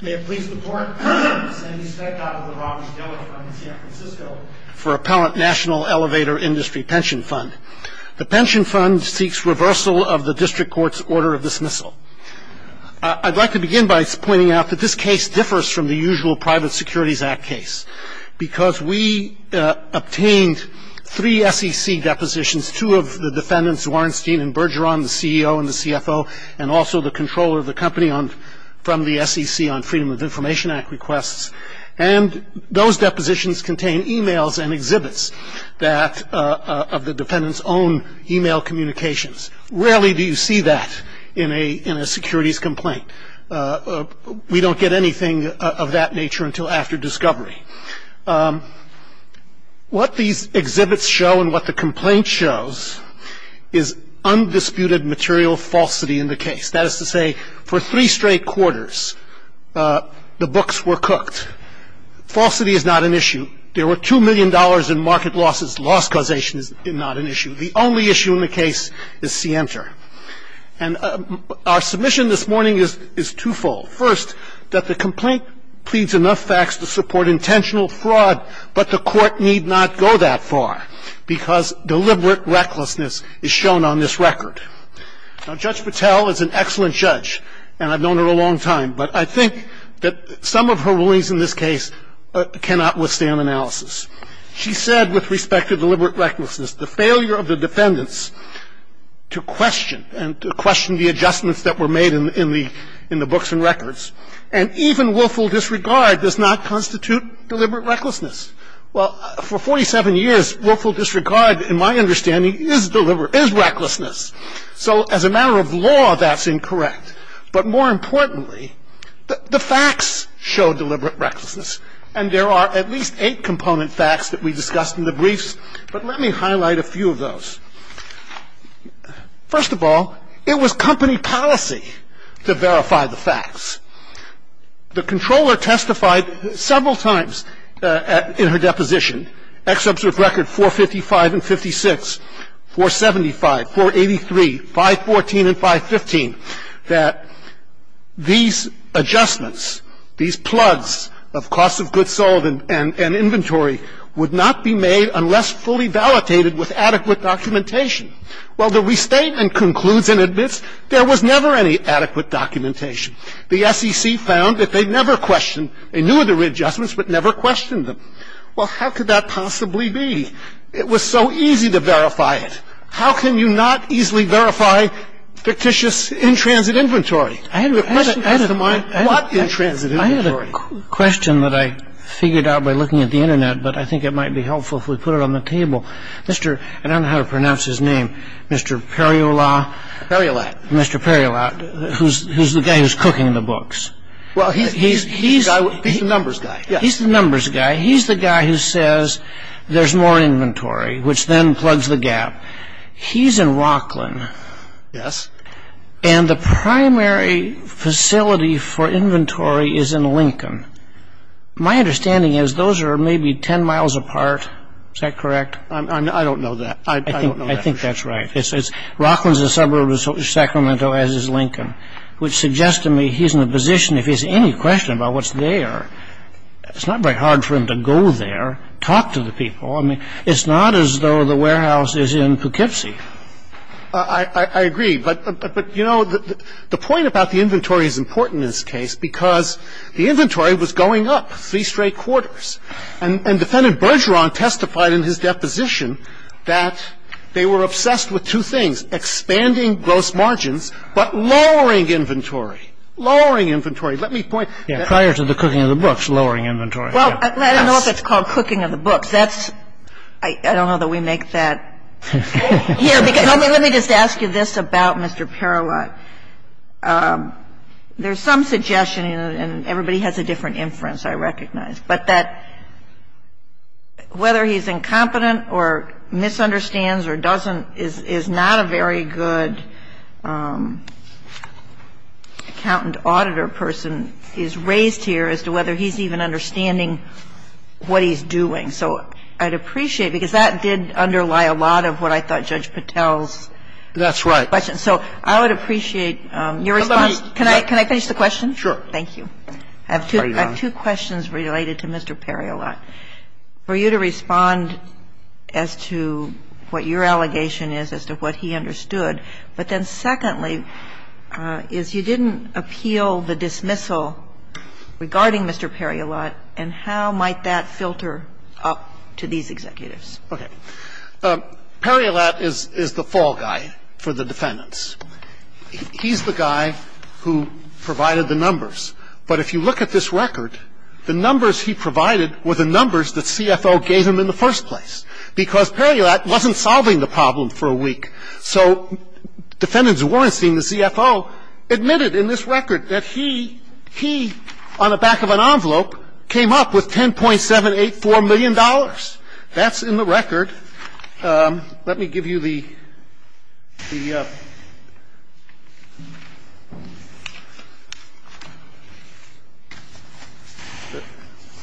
May it please the Court, Sandy Speck out of the Roberts Dillard Fund in San Francisco for Appellant National Elevator Industry Pension Fund. The pension fund seeks reversal of the District Court's order of dismissal. I'd like to begin by pointing out that this case differs from the usual Private Securities Act case because we obtained three SEC depositions, two of the defendants, Zwarnstein and Bergeron, the CEO and the CFO, and also the controller of the company from the SEC on Freedom of Information Act requests. And those depositions contain emails and exhibits of the defendants' own email communications. Rarely do you see that in a securities complaint. We don't get anything of that nature until after discovery. What these exhibits show and what the complaint shows is undisputed material falsity in the case. That is to say, for three straight quarters, the books were cooked. Falsity is not an issue. There were two million dollars in market losses. Loss causation is not an issue. The only issue in the case is scienter. And our submission this morning is twofold. First, that the complaint pleads enough facts to support intentional fraud, but the Court need not go that far because deliberate recklessness is shown on this record. Judge Patel is an excellent judge, and I've known her a long time, but I think that some of her rulings in this case cannot withstand analysis. She said with respect to deliberate recklessness, the failure of the defendants to question and to question the adjustments that were made in the books and records, and even willful disregard does not constitute deliberate recklessness. Well, for 47 years, willful disregard, in my understanding, is recklessness. So, as a matter of law, that's incorrect. But more importantly, the facts show deliberate recklessness. And there are at least eight component facts that we discussed in the briefs, but let me highlight a few of those. First of all, it was company policy to verify the facts. The Comptroller testified several times in her deposition, Ex Observ Record 455 and 56, 475, 483, 514 and 515, that these adjustments, these plugs of cost of goods sold and inventory would not be made unless fully validated with adequate documentation. Well, the restatement concludes and admits there was never any adequate documentation. The SEC found that they never questioned. They knew of the readjustments, but never questioned them. Well, how could that possibly be? It was so easy to verify it. How can you not easily verify fictitious in-transit inventory? The question comes to mind, what in-transit inventory? I had a question that I figured out by looking at the Internet, but I think it might be helpful if we put it on the table. Mr. — I don't know how to pronounce his name. Mr. Periola? Periolat. Mr. Periolat. Who's the guy who's cooking the books? Well, he's the numbers guy. He's the numbers guy. He's the guy who says there's more inventory, which then plugs the gap. He's in Rocklin. Yes. And the primary facility for inventory is in Lincoln. My understanding is those are maybe 10 miles apart. Is that correct? I don't know that. I don't know that for sure. I think that's right. It's Rocklin's a suburb of Sacramento, as is Lincoln, which suggests to me he's in a position, if there's any question about what's there, it's not very hard for him to go there, talk to the people. I mean, it's not as though the warehouse is in Poughkeepsie. I agree. But, you know, the point about the inventory is important in this case because the inventory was going up three straight quarters. And Defendant Bergeron testified in his deposition that they were obsessed with two things, expanding gross margins, but lowering inventory, lowering inventory. Let me point to that. Prior to the cooking of the books, lowering inventory. Well, I don't know if it's called cooking of the books. That's – I don't know that we make that here, because let me just ask you this about Mr. Perlow. There's some suggestion, and everybody has a different inference, I recognize. But that whether he's incompetent or misunderstands or doesn't is not a very good accountant auditor person is raised here as to whether he's even understanding what he's doing. So I'd appreciate, because that did underlie a lot of what I thought Judge Patel's question. That's right. So I would appreciate your response. Can I finish the question? Sure. Thank you. I have two questions related to Mr. Periolat. For you to respond as to what your allegation is, as to what he understood. But then secondly, is you didn't appeal the dismissal regarding Mr. Periolat, and how might that filter up to these executives? Okay. Periolat is the fall guy for the defendants. He's the guy who provided the numbers. But if you look at this record, the numbers he provided were the numbers that CFO gave him in the first place, because Periolat wasn't solving the problem for a week. So defendants weren't seeing the CFO admitted in this record that he, he, on the back of an envelope, came up with $10.784 million. That's in the record. And let me give you the, the,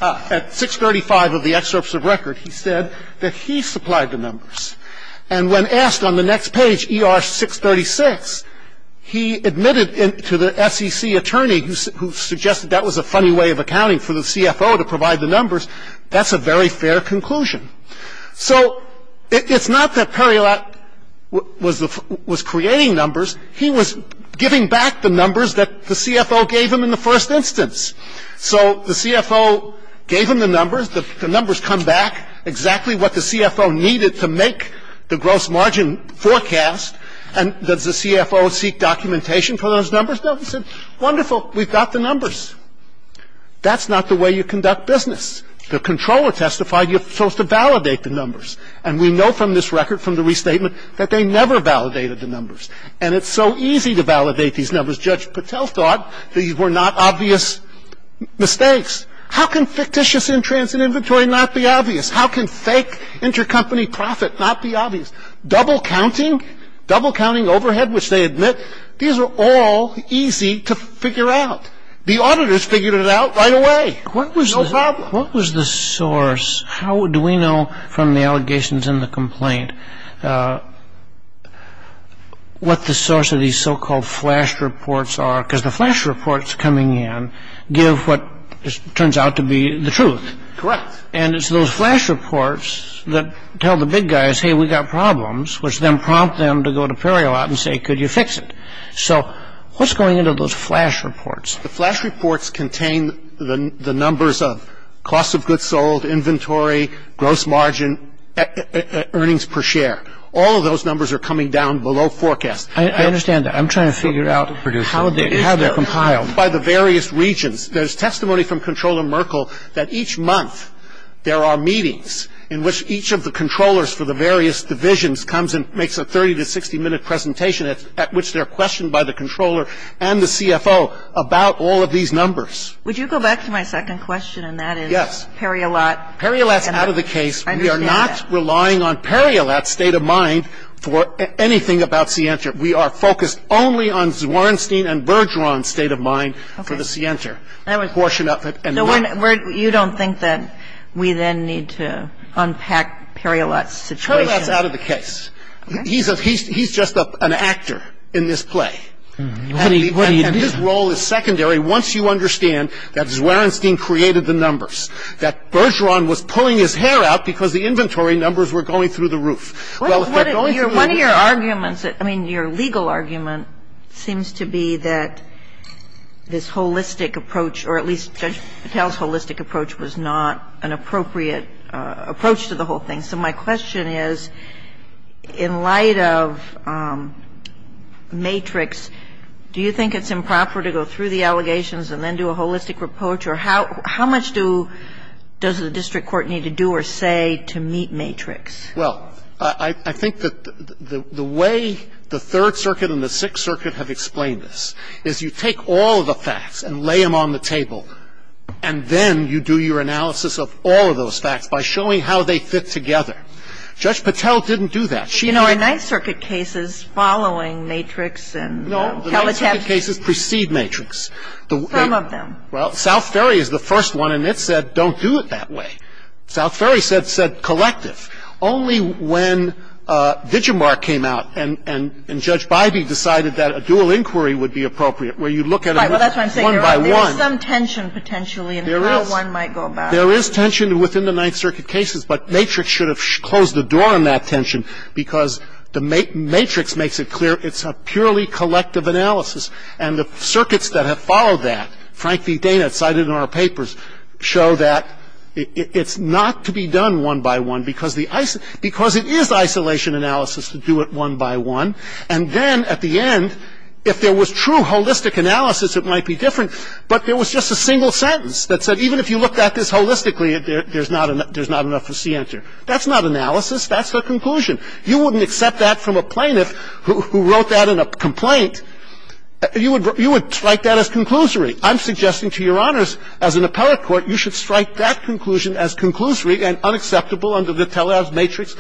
at 635 of the excerpts of record, he said that he supplied the numbers. And when asked on the next page, ER 636, he admitted to the SEC attorney who, who suggested that was a funny way of accounting for the CFO to provide the numbers, that's a very fair conclusion. So it's not that Periolat was the, was creating numbers. He was giving back the numbers that the CFO gave him in the first instance. So the CFO gave him the numbers, the, the numbers come back exactly what the CFO needed to make the gross margin forecast. And does the CFO seek documentation for those numbers? No, he said, wonderful, we've got the numbers. That's not the way you conduct business. The controller testified you're supposed to validate the numbers. And we know from this record, from the restatement, that they never validated the numbers. And it's so easy to validate these numbers. Judge Patel thought these were not obvious mistakes. How can fictitious entrance in inventory not be obvious? How can fake intercompany profit not be obvious? Double counting, double counting overhead, which they admit, these are all easy to figure out. The auditors figured it out right away. What was the source? How do we know from the allegations in the complaint what the source of these so-called flash reports are? Because the flash reports coming in give what turns out to be the truth. Correct. And it's those flash reports that tell the big guys, hey, we've got problems, which then prompt them to go to Periolat and say, could you fix it? So what's going into those flash reports? The flash reports contain the numbers of cost of goods sold, inventory, gross margin, earnings per share. All of those numbers are coming down below forecast. I understand that. I'm trying to figure out how they're compiled. By the various regions. There's testimony from Comptroller Merkel that each month there are meetings in which each of the controllers for the various divisions comes and makes a 30 to 60 minute presentation at which they're questioned by the controller and the CFO about all of these numbers. Would you go back to my second question, and that is Periolat? Periolat's out of the case. We are not relying on Periolat's state of mind for anything about Sientra. We are focused only on Zwornstein and Bergeron's state of mind for the Sientra. That was- Portion of it. So you don't think that we then need to unpack Periolat's situation? Periolat's out of the case. He's just an actor in this play. And his role is secondary once you understand that Zwornstein created the numbers, that Bergeron was pulling his hair out because the inventory numbers were going through the roof. Well, if they're going through the roof- One of your arguments, I mean, your legal argument seems to be that this holistic approach, or at least Judge Patel's holistic approach was not an appropriate approach to the whole thing. And so my question is, in light of matrix, do you think it's improper to go through the allegations and then do a holistic approach, or how much do, does the district court need to do or say to meet matrix? Well, I think that the way the Third Circuit and the Sixth Circuit have explained this is you take all the facts and lay them on the table, and then you do your analysis of all of those facts by showing how they fit together. Judge Patel didn't do that. She- You know, our Ninth Circuit cases following matrix and- No, the Ninth Circuit cases precede matrix. Some of them. Well, South Ferry is the first one, and it said don't do it that way. South Ferry said collective. Only when Digimart came out and Judge Bybee decided that a dual inquiry would be appropriate, where you look at it one by one- Right, well, that's what I'm saying. There is some tension potentially in how one might go about it. There is tension within the Ninth Circuit cases, but matrix should have closed the door on that tension because the matrix makes it clear it's a purely collective analysis, and the circuits that have followed that, frankly, data cited in our papers, show that it's not to be done one by one because it is isolation analysis to do it one by one, and then at the end, if there was true holistic analysis, it might be different, but there was just a single sentence that said even if you look at this holistically, there's not enough to see answer. That's not analysis. That's a conclusion. You wouldn't accept that from a plaintiff who wrote that in a complaint. You would strike that as conclusory. I'm suggesting to Your Honors, as an appellate court, you should strike that conclusion as conclusory and unacceptable under the telehealth matrix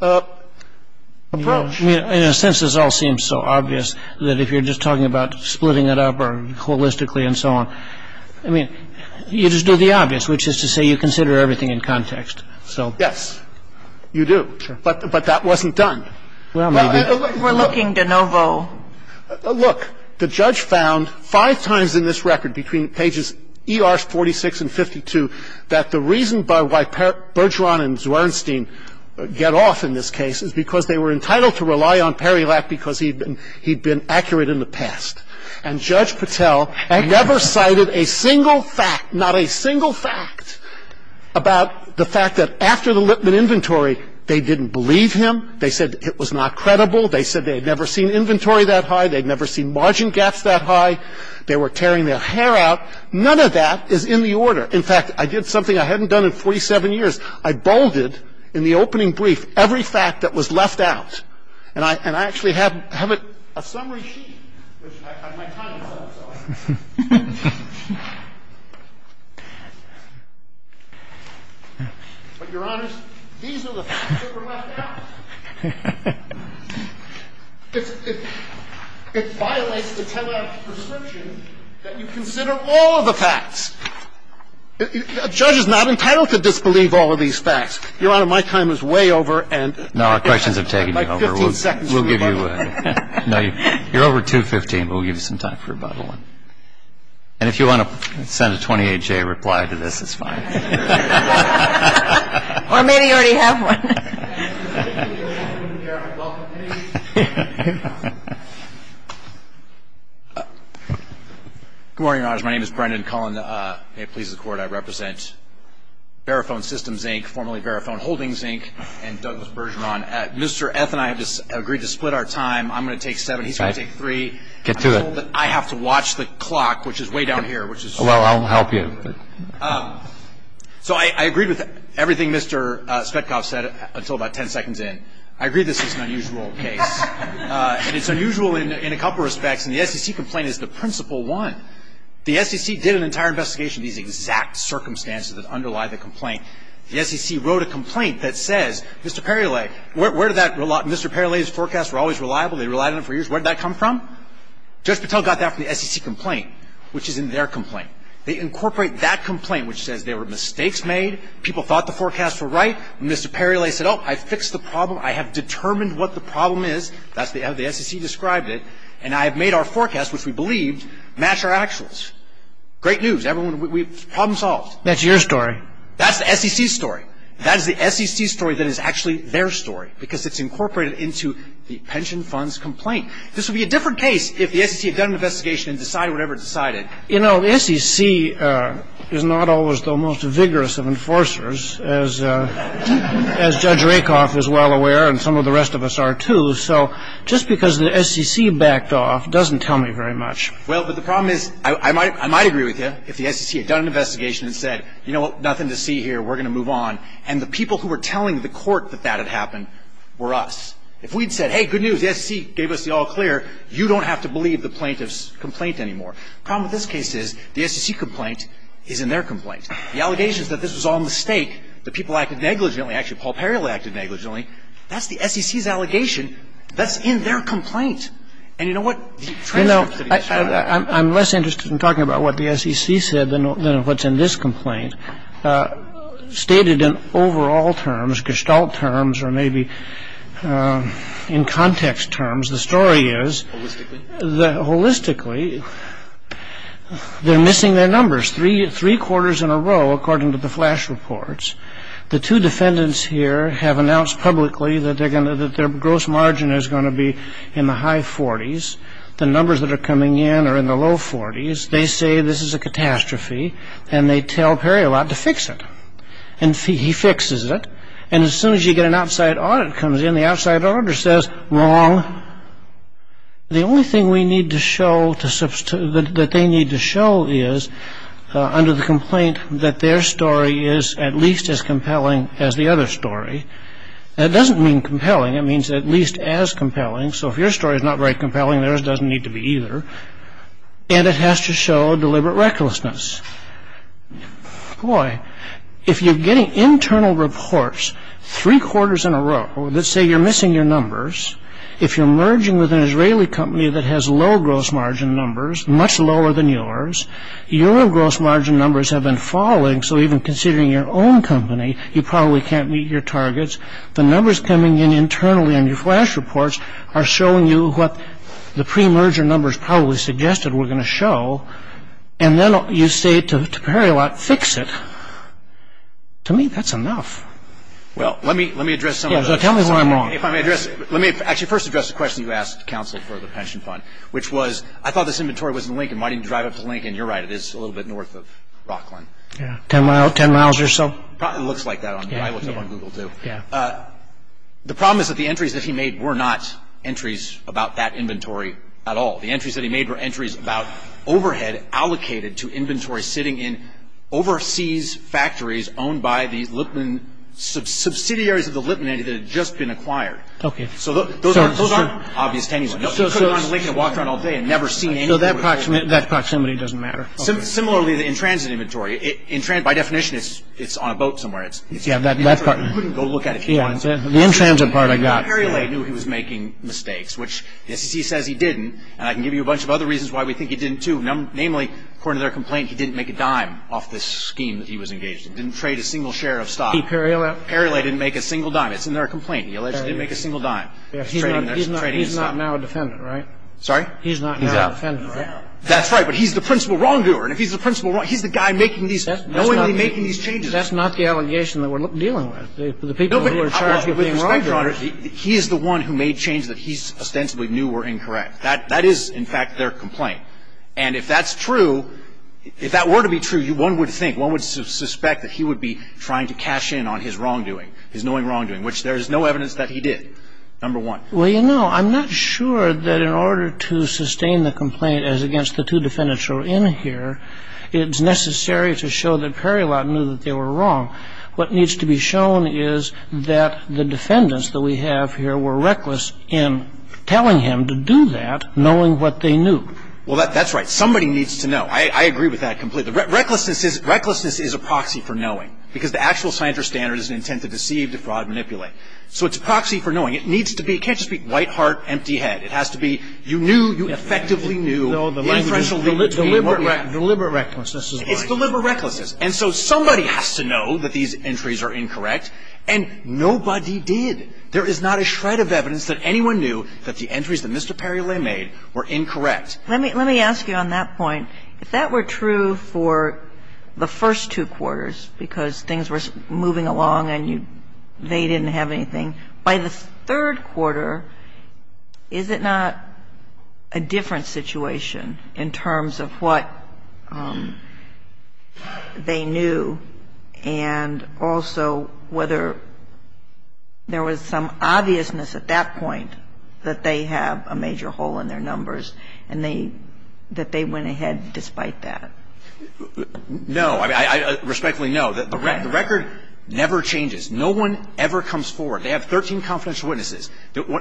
approach. In a sense, this all seems so obvious, that if you're just talking about splitting it up or holistically and so on. I mean, you just do the obvious, which is to say you consider everything in context. So. Yes, you do. But that wasn't done. Well, maybe. We're looking de novo. Look, the judge found five times in this record, between pages ER 46 and 52, that the reason why Bergeron and Zwernstein get off in this case is because they were entitled to rely on Perilak because he'd been accurate in the past. And Judge Patel never cited a single fact, not a single fact, about the fact that after the Lipman inventory, they didn't believe him. They said it was not credible. They said they had never seen inventory that high. They'd never seen margin gaps that high. They were tearing their hair out. None of that is in the order. In fact, I did something I hadn't done in 47 years. I bolded, in the opening brief, every fact that was left out. And I actually have a summary sheet, which I have my time to sell, so. But, Your Honors, these are the facts that were left out. It violates the 10-act prescription that you consider all of the facts. A judge is not entitled to disbelieve all of these facts. Your Honor, my time is way over, and my question is. We'll give you, no, you're over 2.15, but we'll give you some time for rebuttal. And if you want to send a 28-J reply to this, it's fine. Or maybe you already have one. Good morning, Your Honors. My name is Brendan Cullen. May it please the Court, I represent Barofone Systems, Inc., formerly Barofone Holdings, Inc., and Douglas Bergeron. Mr. F and I have just agreed to split our time. I'm going to take seven, he's going to take three. Get to it. I have to watch the clock, which is way down here, which is. Well, I'll help you. So I agreed with everything Mr. Spetkov said until about ten seconds in. I agree this is an unusual case, and it's unusual in a couple of respects. And the SEC complaint is the principal one. The SEC did an entire investigation of these exact circumstances that underlie the complaint. The SEC wrote a complaint that says, Mr. Perrile, where did that, Mr. Perrile's forecasts were always reliable. They relied on it for years. Where did that come from? Judge Patel got that from the SEC complaint, which is in their complaint. They incorporate that complaint, which says there were mistakes made. People thought the forecasts were right. Mr. Perrile said, oh, I fixed the problem. I have determined what the problem is. That's how the SEC described it. And I have made our forecast, which we believed, match our actuals. Great news. Everyone, we've problem solved. That's your story. That's the SEC story. That is the SEC story that is actually their story, because it's incorporated into the pension fund's complaint. This would be a different case if the SEC had done an investigation and decided whatever it decided. You know, the SEC is not always the most vigorous of enforcers, as Judge Rakoff is well aware, and some of the rest of us are, too. So just because the SEC backed off doesn't tell me very much. Well, but the problem is, I might agree with you, if the SEC had done an investigation and said, you know what, nothing to see here, we're going to move on, and the people who were telling the court that that had happened were us. If we'd said, hey, good news, the SEC gave us the all clear, you don't have to believe the plaintiff's complaint anymore. The problem with this case is the SEC complaint is in their complaint. The allegation is that this was all a mistake, that people acted negligently. Actually, Paul Perrile acted negligently. That's the SEC's allegation. That's in their complaint. And you know what? The transcripts that he sent out. I'm less interested in talking about what the SEC said than what's in this complaint. Stated in overall terms, gestalt terms, or maybe in context terms, the story is, holistically, they're missing their numbers. Three quarters in a row, according to the flash reports, the two defendants here have announced publicly that their gross margin is going to be in the high 40s. The numbers that are coming in are in the low 40s. They say this is a catastrophe, and they tell Perrile out to fix it. And he fixes it. And as soon as you get an outside audit comes in, the outside auditor says, wrong. The only thing we need to show that they need to show is, under the complaint, that their story is at least as compelling as the other story. That doesn't mean compelling. It means at least as compelling. So if your story is not very compelling, theirs doesn't need to be either. And it has to show deliberate recklessness. Boy, if you're getting internal reports, three quarters in a row, that say you're missing your numbers. If you're merging with an Israeli company that has low gross margin numbers, much lower than yours, your gross margin numbers have been falling. So even considering your own company, you probably can't meet your targets. The numbers coming in internally on your flash reports are showing you what the pre-merger numbers probably suggested were going to show. And then you say to Perrile out, fix it. To me, that's enough. Well, let me address some of the... Yeah, so tell me why I'm wrong. If I may address... Let me actually first address the question you asked counsel for the pension fund, which was, I thought this inventory was in Lincoln. Why didn't you drive up to Lincoln? You're right. It is a little bit north of Rockland. Yeah, 10 miles or so. It looks like that on Google. I looked it up on Google, too. Yeah. The problem is that the entries that he made were not entries about that inventory at all. The entries that he made were entries about overhead allocated to inventory sitting in overseas factories owned by the Lipman, subsidiaries of the Lipman entity that had just been acquired. Okay. So those aren't obvious to anyone. Nobody could have gone to Lincoln and walked around all day and never seen anything. So that proximity doesn't matter. Similarly, the in-transit inventory. In-transit, by definition, it's on a boat somewhere. It's... Yeah, that part... You couldn't go look at it if you wanted to. The in-transit part I got. Perry Lay knew he was making mistakes, which the SEC says he didn't. And I can give you a bunch of other reasons why we think he didn't, too. Namely, according to their complaint, he didn't make a dime off this scheme that he was engaged in. Didn't trade a single share of stock. He, Perry Lay? Perry Lay didn't make a single dime. It's in their complaint. He allegedly didn't make a single dime. He's not now a defendant, right? Sorry? He's not now a defendant. That's right. But he's the principal wrongdoer. And if he's the principal wrongdoer, he's the guy making these, knowingly making these changes. That's not the allegation that we're dealing with. The people who are charged with being wrongdoers... With respect, Your Honor, he is the one who made changes that he ostensibly knew were incorrect. That is, in fact, their complaint. And if that's true, if that were to be true, one would think, one would suspect that he would be trying to cash in on his wrongdoing, his knowing wrongdoing, which there is no evidence that he did, number one. Well, you know, I'm not sure that in order to sustain the complaint as against the two defendants who are in here, it's necessary to show that Perry Lay knew that they were wrong. What needs to be shown is that the defendants that we have here were reckless in telling him to do that, knowing what they knew. Well, that's right. Somebody needs to know. I agree with that completely. Recklessness is a proxy for knowing, because the actual scientific standard is an intent to deceive, to fraud, to manipulate. So it's a proxy for knowing. It needs to be, it can't just be white heart, empty head. It has to be, you knew, you effectively knew. No, the language is deliberate recklessness is what I'm saying. It's deliberate recklessness. And so somebody has to know that these entries are incorrect, and nobody did. There is not a shred of evidence that anyone knew that the entries that Mr. Perry Lay made were incorrect. Let me ask you on that point, if that were true for the first two quarters, because things were moving along and they didn't have anything, by the third quarter, is it not a different situation in terms of what they knew and also whether there was some obviousness at that point that they have a major hole in their numbers and they, that they went ahead despite that? No. I respectfully know that the record never changes. No one ever comes forward. They have 13 confidential witnesses.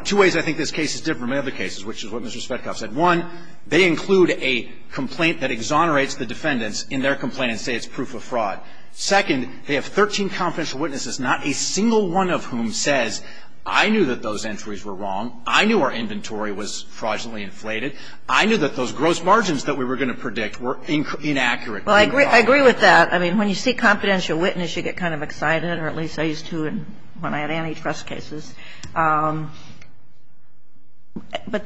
Two ways I think this case is different from the other cases, which is what Mr. Spetkoff said. One, they include a complaint that exonerates the defendants in their complaint and say it's proof of fraud. Second, they have 13 confidential witnesses, not a single one of whom says, I knew that those entries were wrong. I knew our inventory was fraudulently inflated. I knew that those gross margins that we were going to predict were inaccurate. Well, I agree with that. I mean, when you see confidential witness, you get kind of excited, or at least I used to when I had antitrust cases. But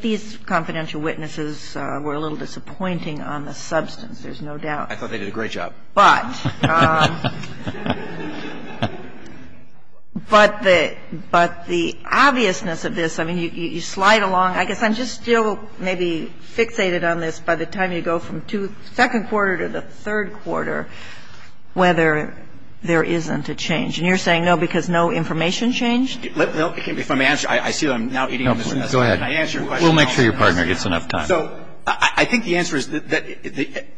these confidential witnesses were a little disappointing on the substance, there's no doubt. I thought they did a great job. But the obviousness of this, I mean, you slide along. I guess I'm just still maybe fixated on this. I'm just going to say, I don't know if by the time you go from second quarter to the third quarter, whether there isn't a change. And you're saying no, because no information changed? No, if I may answer, I see that I'm now eating Mr. Spetkoff's hand. Can I answer your question now? We'll make sure your partner gets enough time. So I think the answer is that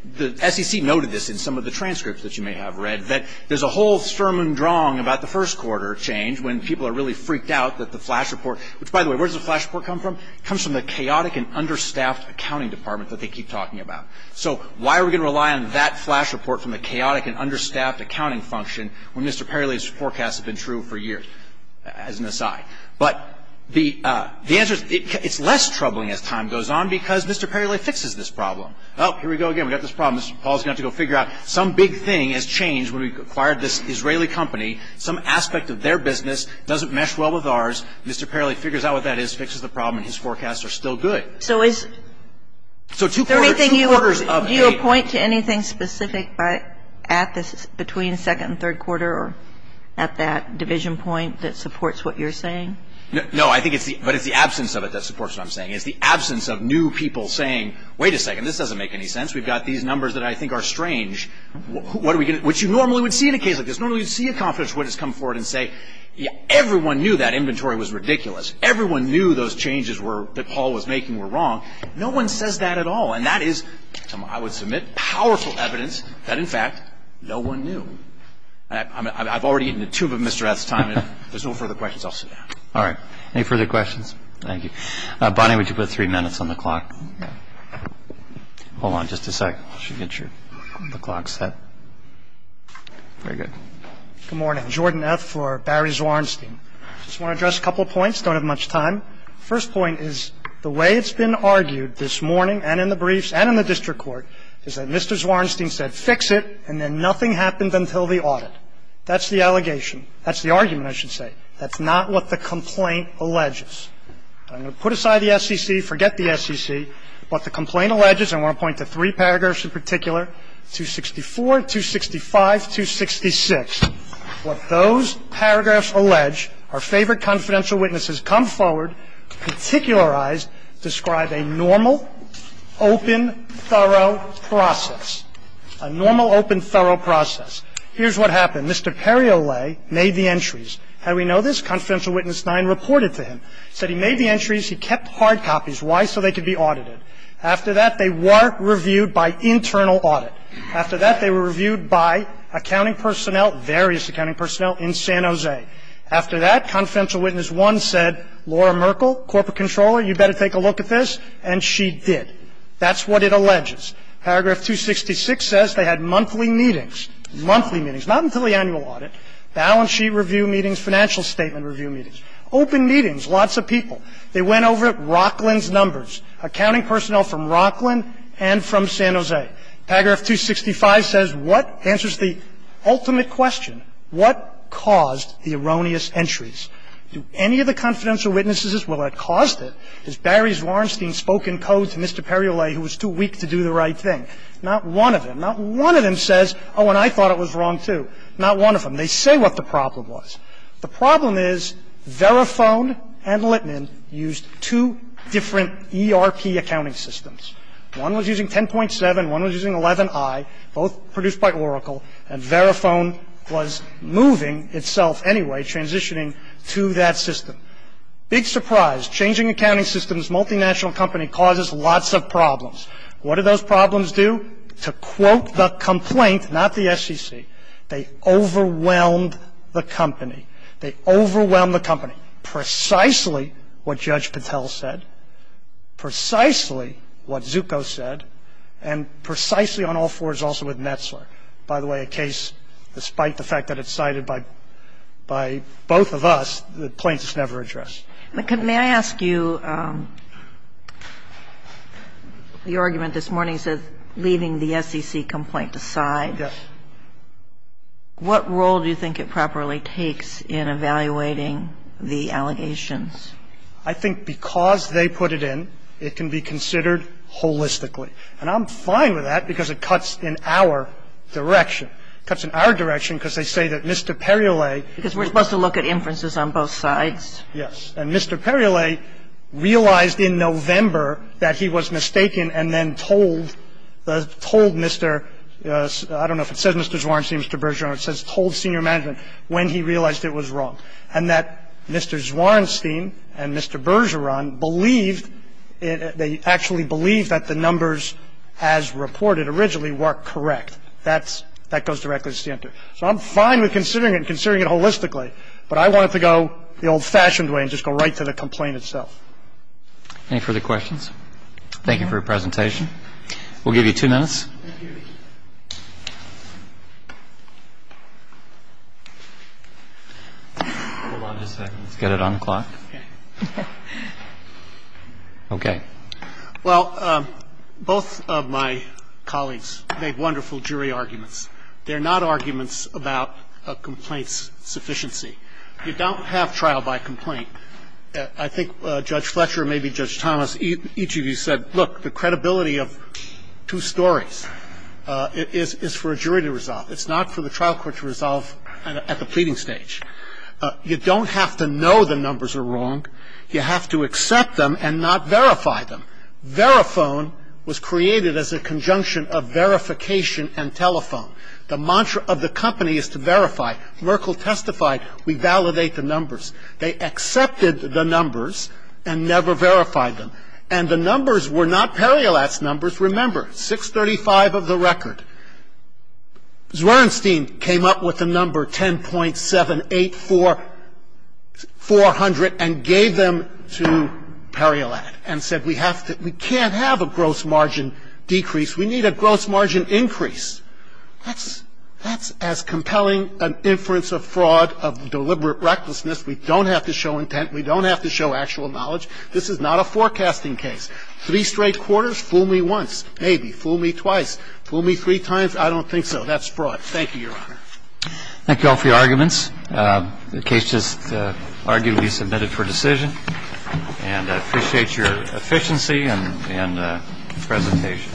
the SEC noted this in some of the transcripts that you may have read, that there's a whole sturm und drang about the first quarter change when people are really freaked out that the flash report, which, by the way, where does the flash report come from? It comes from the chaotic and understaffed accounting department that they keep talking about. So why are we going to rely on that flash report from the chaotic and understaffed accounting function when Mr. Paraly's forecasts have been true for years, as an aside? But the answer is, it's less troubling as time goes on because Mr. Paraly fixes this problem. Oh, here we go again, we've got this problem. Mr. Paraly's going to have to go figure out some big thing has changed when we acquired this Israeli company. Some aspect of their business doesn't mesh well with ours. Mr. Paraly figures out what that is, fixes the problem, and his forecasts are still good. So is there anything you would point to anything specific between second and third quarter or at that division point that supports what you're saying? No, I think it's the absence of it that supports what I'm saying. It's the absence of new people saying, wait a second, this doesn't make any sense. We've got these numbers that I think are strange, which you normally would see in a case like this. Normally you'd see a conference witness come forward and say, everyone knew that inventory was ridiculous. Everyone knew those changes that Paul was making were wrong. No one says that at all. And that is, I would submit, powerful evidence that, in fact, no one knew. I've already eaten the tube of Mr. Rath's time. If there's no further questions, I'll sit down. All right. Any further questions? Thank you. Bonnie, would you put three minutes on the clock? Hold on just a second. I should get the clock set. Very good. Good morning. Jordan F. for Barry Zwarnstein. I just want to address a couple of points. I don't have much time. The first point is the way it's been argued this morning and in the briefs and in the district court is that Mr. Zwarnstein said, fix it, and then nothing happened until the audit. That's the allegation. That's the argument, I should say. That's not what the complaint alleges. I'm going to put aside the SEC, forget the SEC. What the complaint alleges, and I want to point to three paragraphs in particular, 264, 265, 266. What those paragraphs allege, our favorite confidential witnesses come forward, particularize, describe a normal, open, thorough process, a normal, open, thorough process. Here's what happened. Mr. Periolet made the entries. How do we know this? Confidential Witness 9 reported to him. Said he made the entries. He kept hard copies. Why? So they could be audited. After that, they were reviewed by internal audit. After that, they were reviewed by accounting personnel, various accounting personnel in San Jose. After that, Confidential Witness 1 said, Laura Merkel, corporate controller, you'd better take a look at this, and she did. That's what it alleges. Paragraph 266 says they had monthly meetings, monthly meetings, not until the annual audit, balance sheet review meetings, financial statement review meetings, open meetings, lots of people. They went over it, Rocklin's numbers, accounting personnel from Rocklin and from San Jose. Paragraph 265 says what? Answers the ultimate question. What caused the erroneous entries? Do any of the confidential witnesses as well have caused it? Has Barry Zwarnstein spoken code to Mr. Periolet, who was too weak to do the right thing? Not one of them. Not one of them says, oh, and I thought it was wrong, too. Not one of them. They say what the problem was. The problem is Verifone and Littman used two different ERP accounting systems. One was using 10.7, one was using 11i, both produced by Oracle, and Verifone was moving itself anyway, transitioning to that system. Big surprise. Changing accounting systems, multinational company causes lots of problems. What do those problems do? They overwhelmed the company. They overwhelmed the company. Precisely what Judge Patel said. Precisely what Zucco said. And precisely on all fours also with Metzler. By the way, a case, despite the fact that it's cited by both of us, the plaintiff's never addressed. The argument this morning is leaving the SEC complaint aside. Yes. What role do you think it properly takes in evaluating the allegations? I think because they put it in, it can be considered holistically. And I'm fine with that because it cuts in our direction. It cuts in our direction because they say that Mr. Periolet... Because we're supposed to look at inferences on both sides? Yes. And Mr. Periolet realized in November that he was mistaken and then told Mr. I don't know if it says Mr. Zwarenstein, Mr. Bergeron. It says told senior management when he realized it was wrong. And that Mr. Zwarenstein and Mr. Bergeron believed, they actually believed that the numbers as reported originally were correct. That goes directly to the center. So I'm fine with considering it and considering it holistically. But I want it to go the old-fashioned way and just go right to the complaint itself. Any further questions? Thank you for your presentation. We'll give you two minutes. Hold on just a second. Let's get it on the clock. Okay. Well, both of my colleagues made wonderful jury arguments. They're not arguments about a complaint's sufficiency. You don't have trial by complaint. I think Judge Fletcher, maybe Judge Thomas, each of you said, look, the credibility of two stories is for a jury to resolve. It's not for the trial court to resolve at the pleading stage. You don't have to know the numbers are wrong. You have to accept them and not verify them. Verifone was created as a conjunction of verification and telephone. The mantra of the company is to verify. Merkle testified, we validate the numbers. They accepted the numbers and never verified them. And the numbers were not Periolat's numbers, remember, 635 of the record. Zwierenstein came up with the number 10.78400 and gave them to Periolat and said, we can't have a gross margin decrease. We need a gross margin increase. That's as compelling an inference of fraud, of deliberate recklessness. We don't have to show intent. We don't have to show actual knowledge. This is not a forecasting case. Three straight quarters? Fool me once, maybe. Fool me twice. Fool me three times? I don't think so. That's fraud. Thank you, Your Honor. Thank you all for your arguments. The case just arguably submitted for decision. And I appreciate your efficiency and presentation.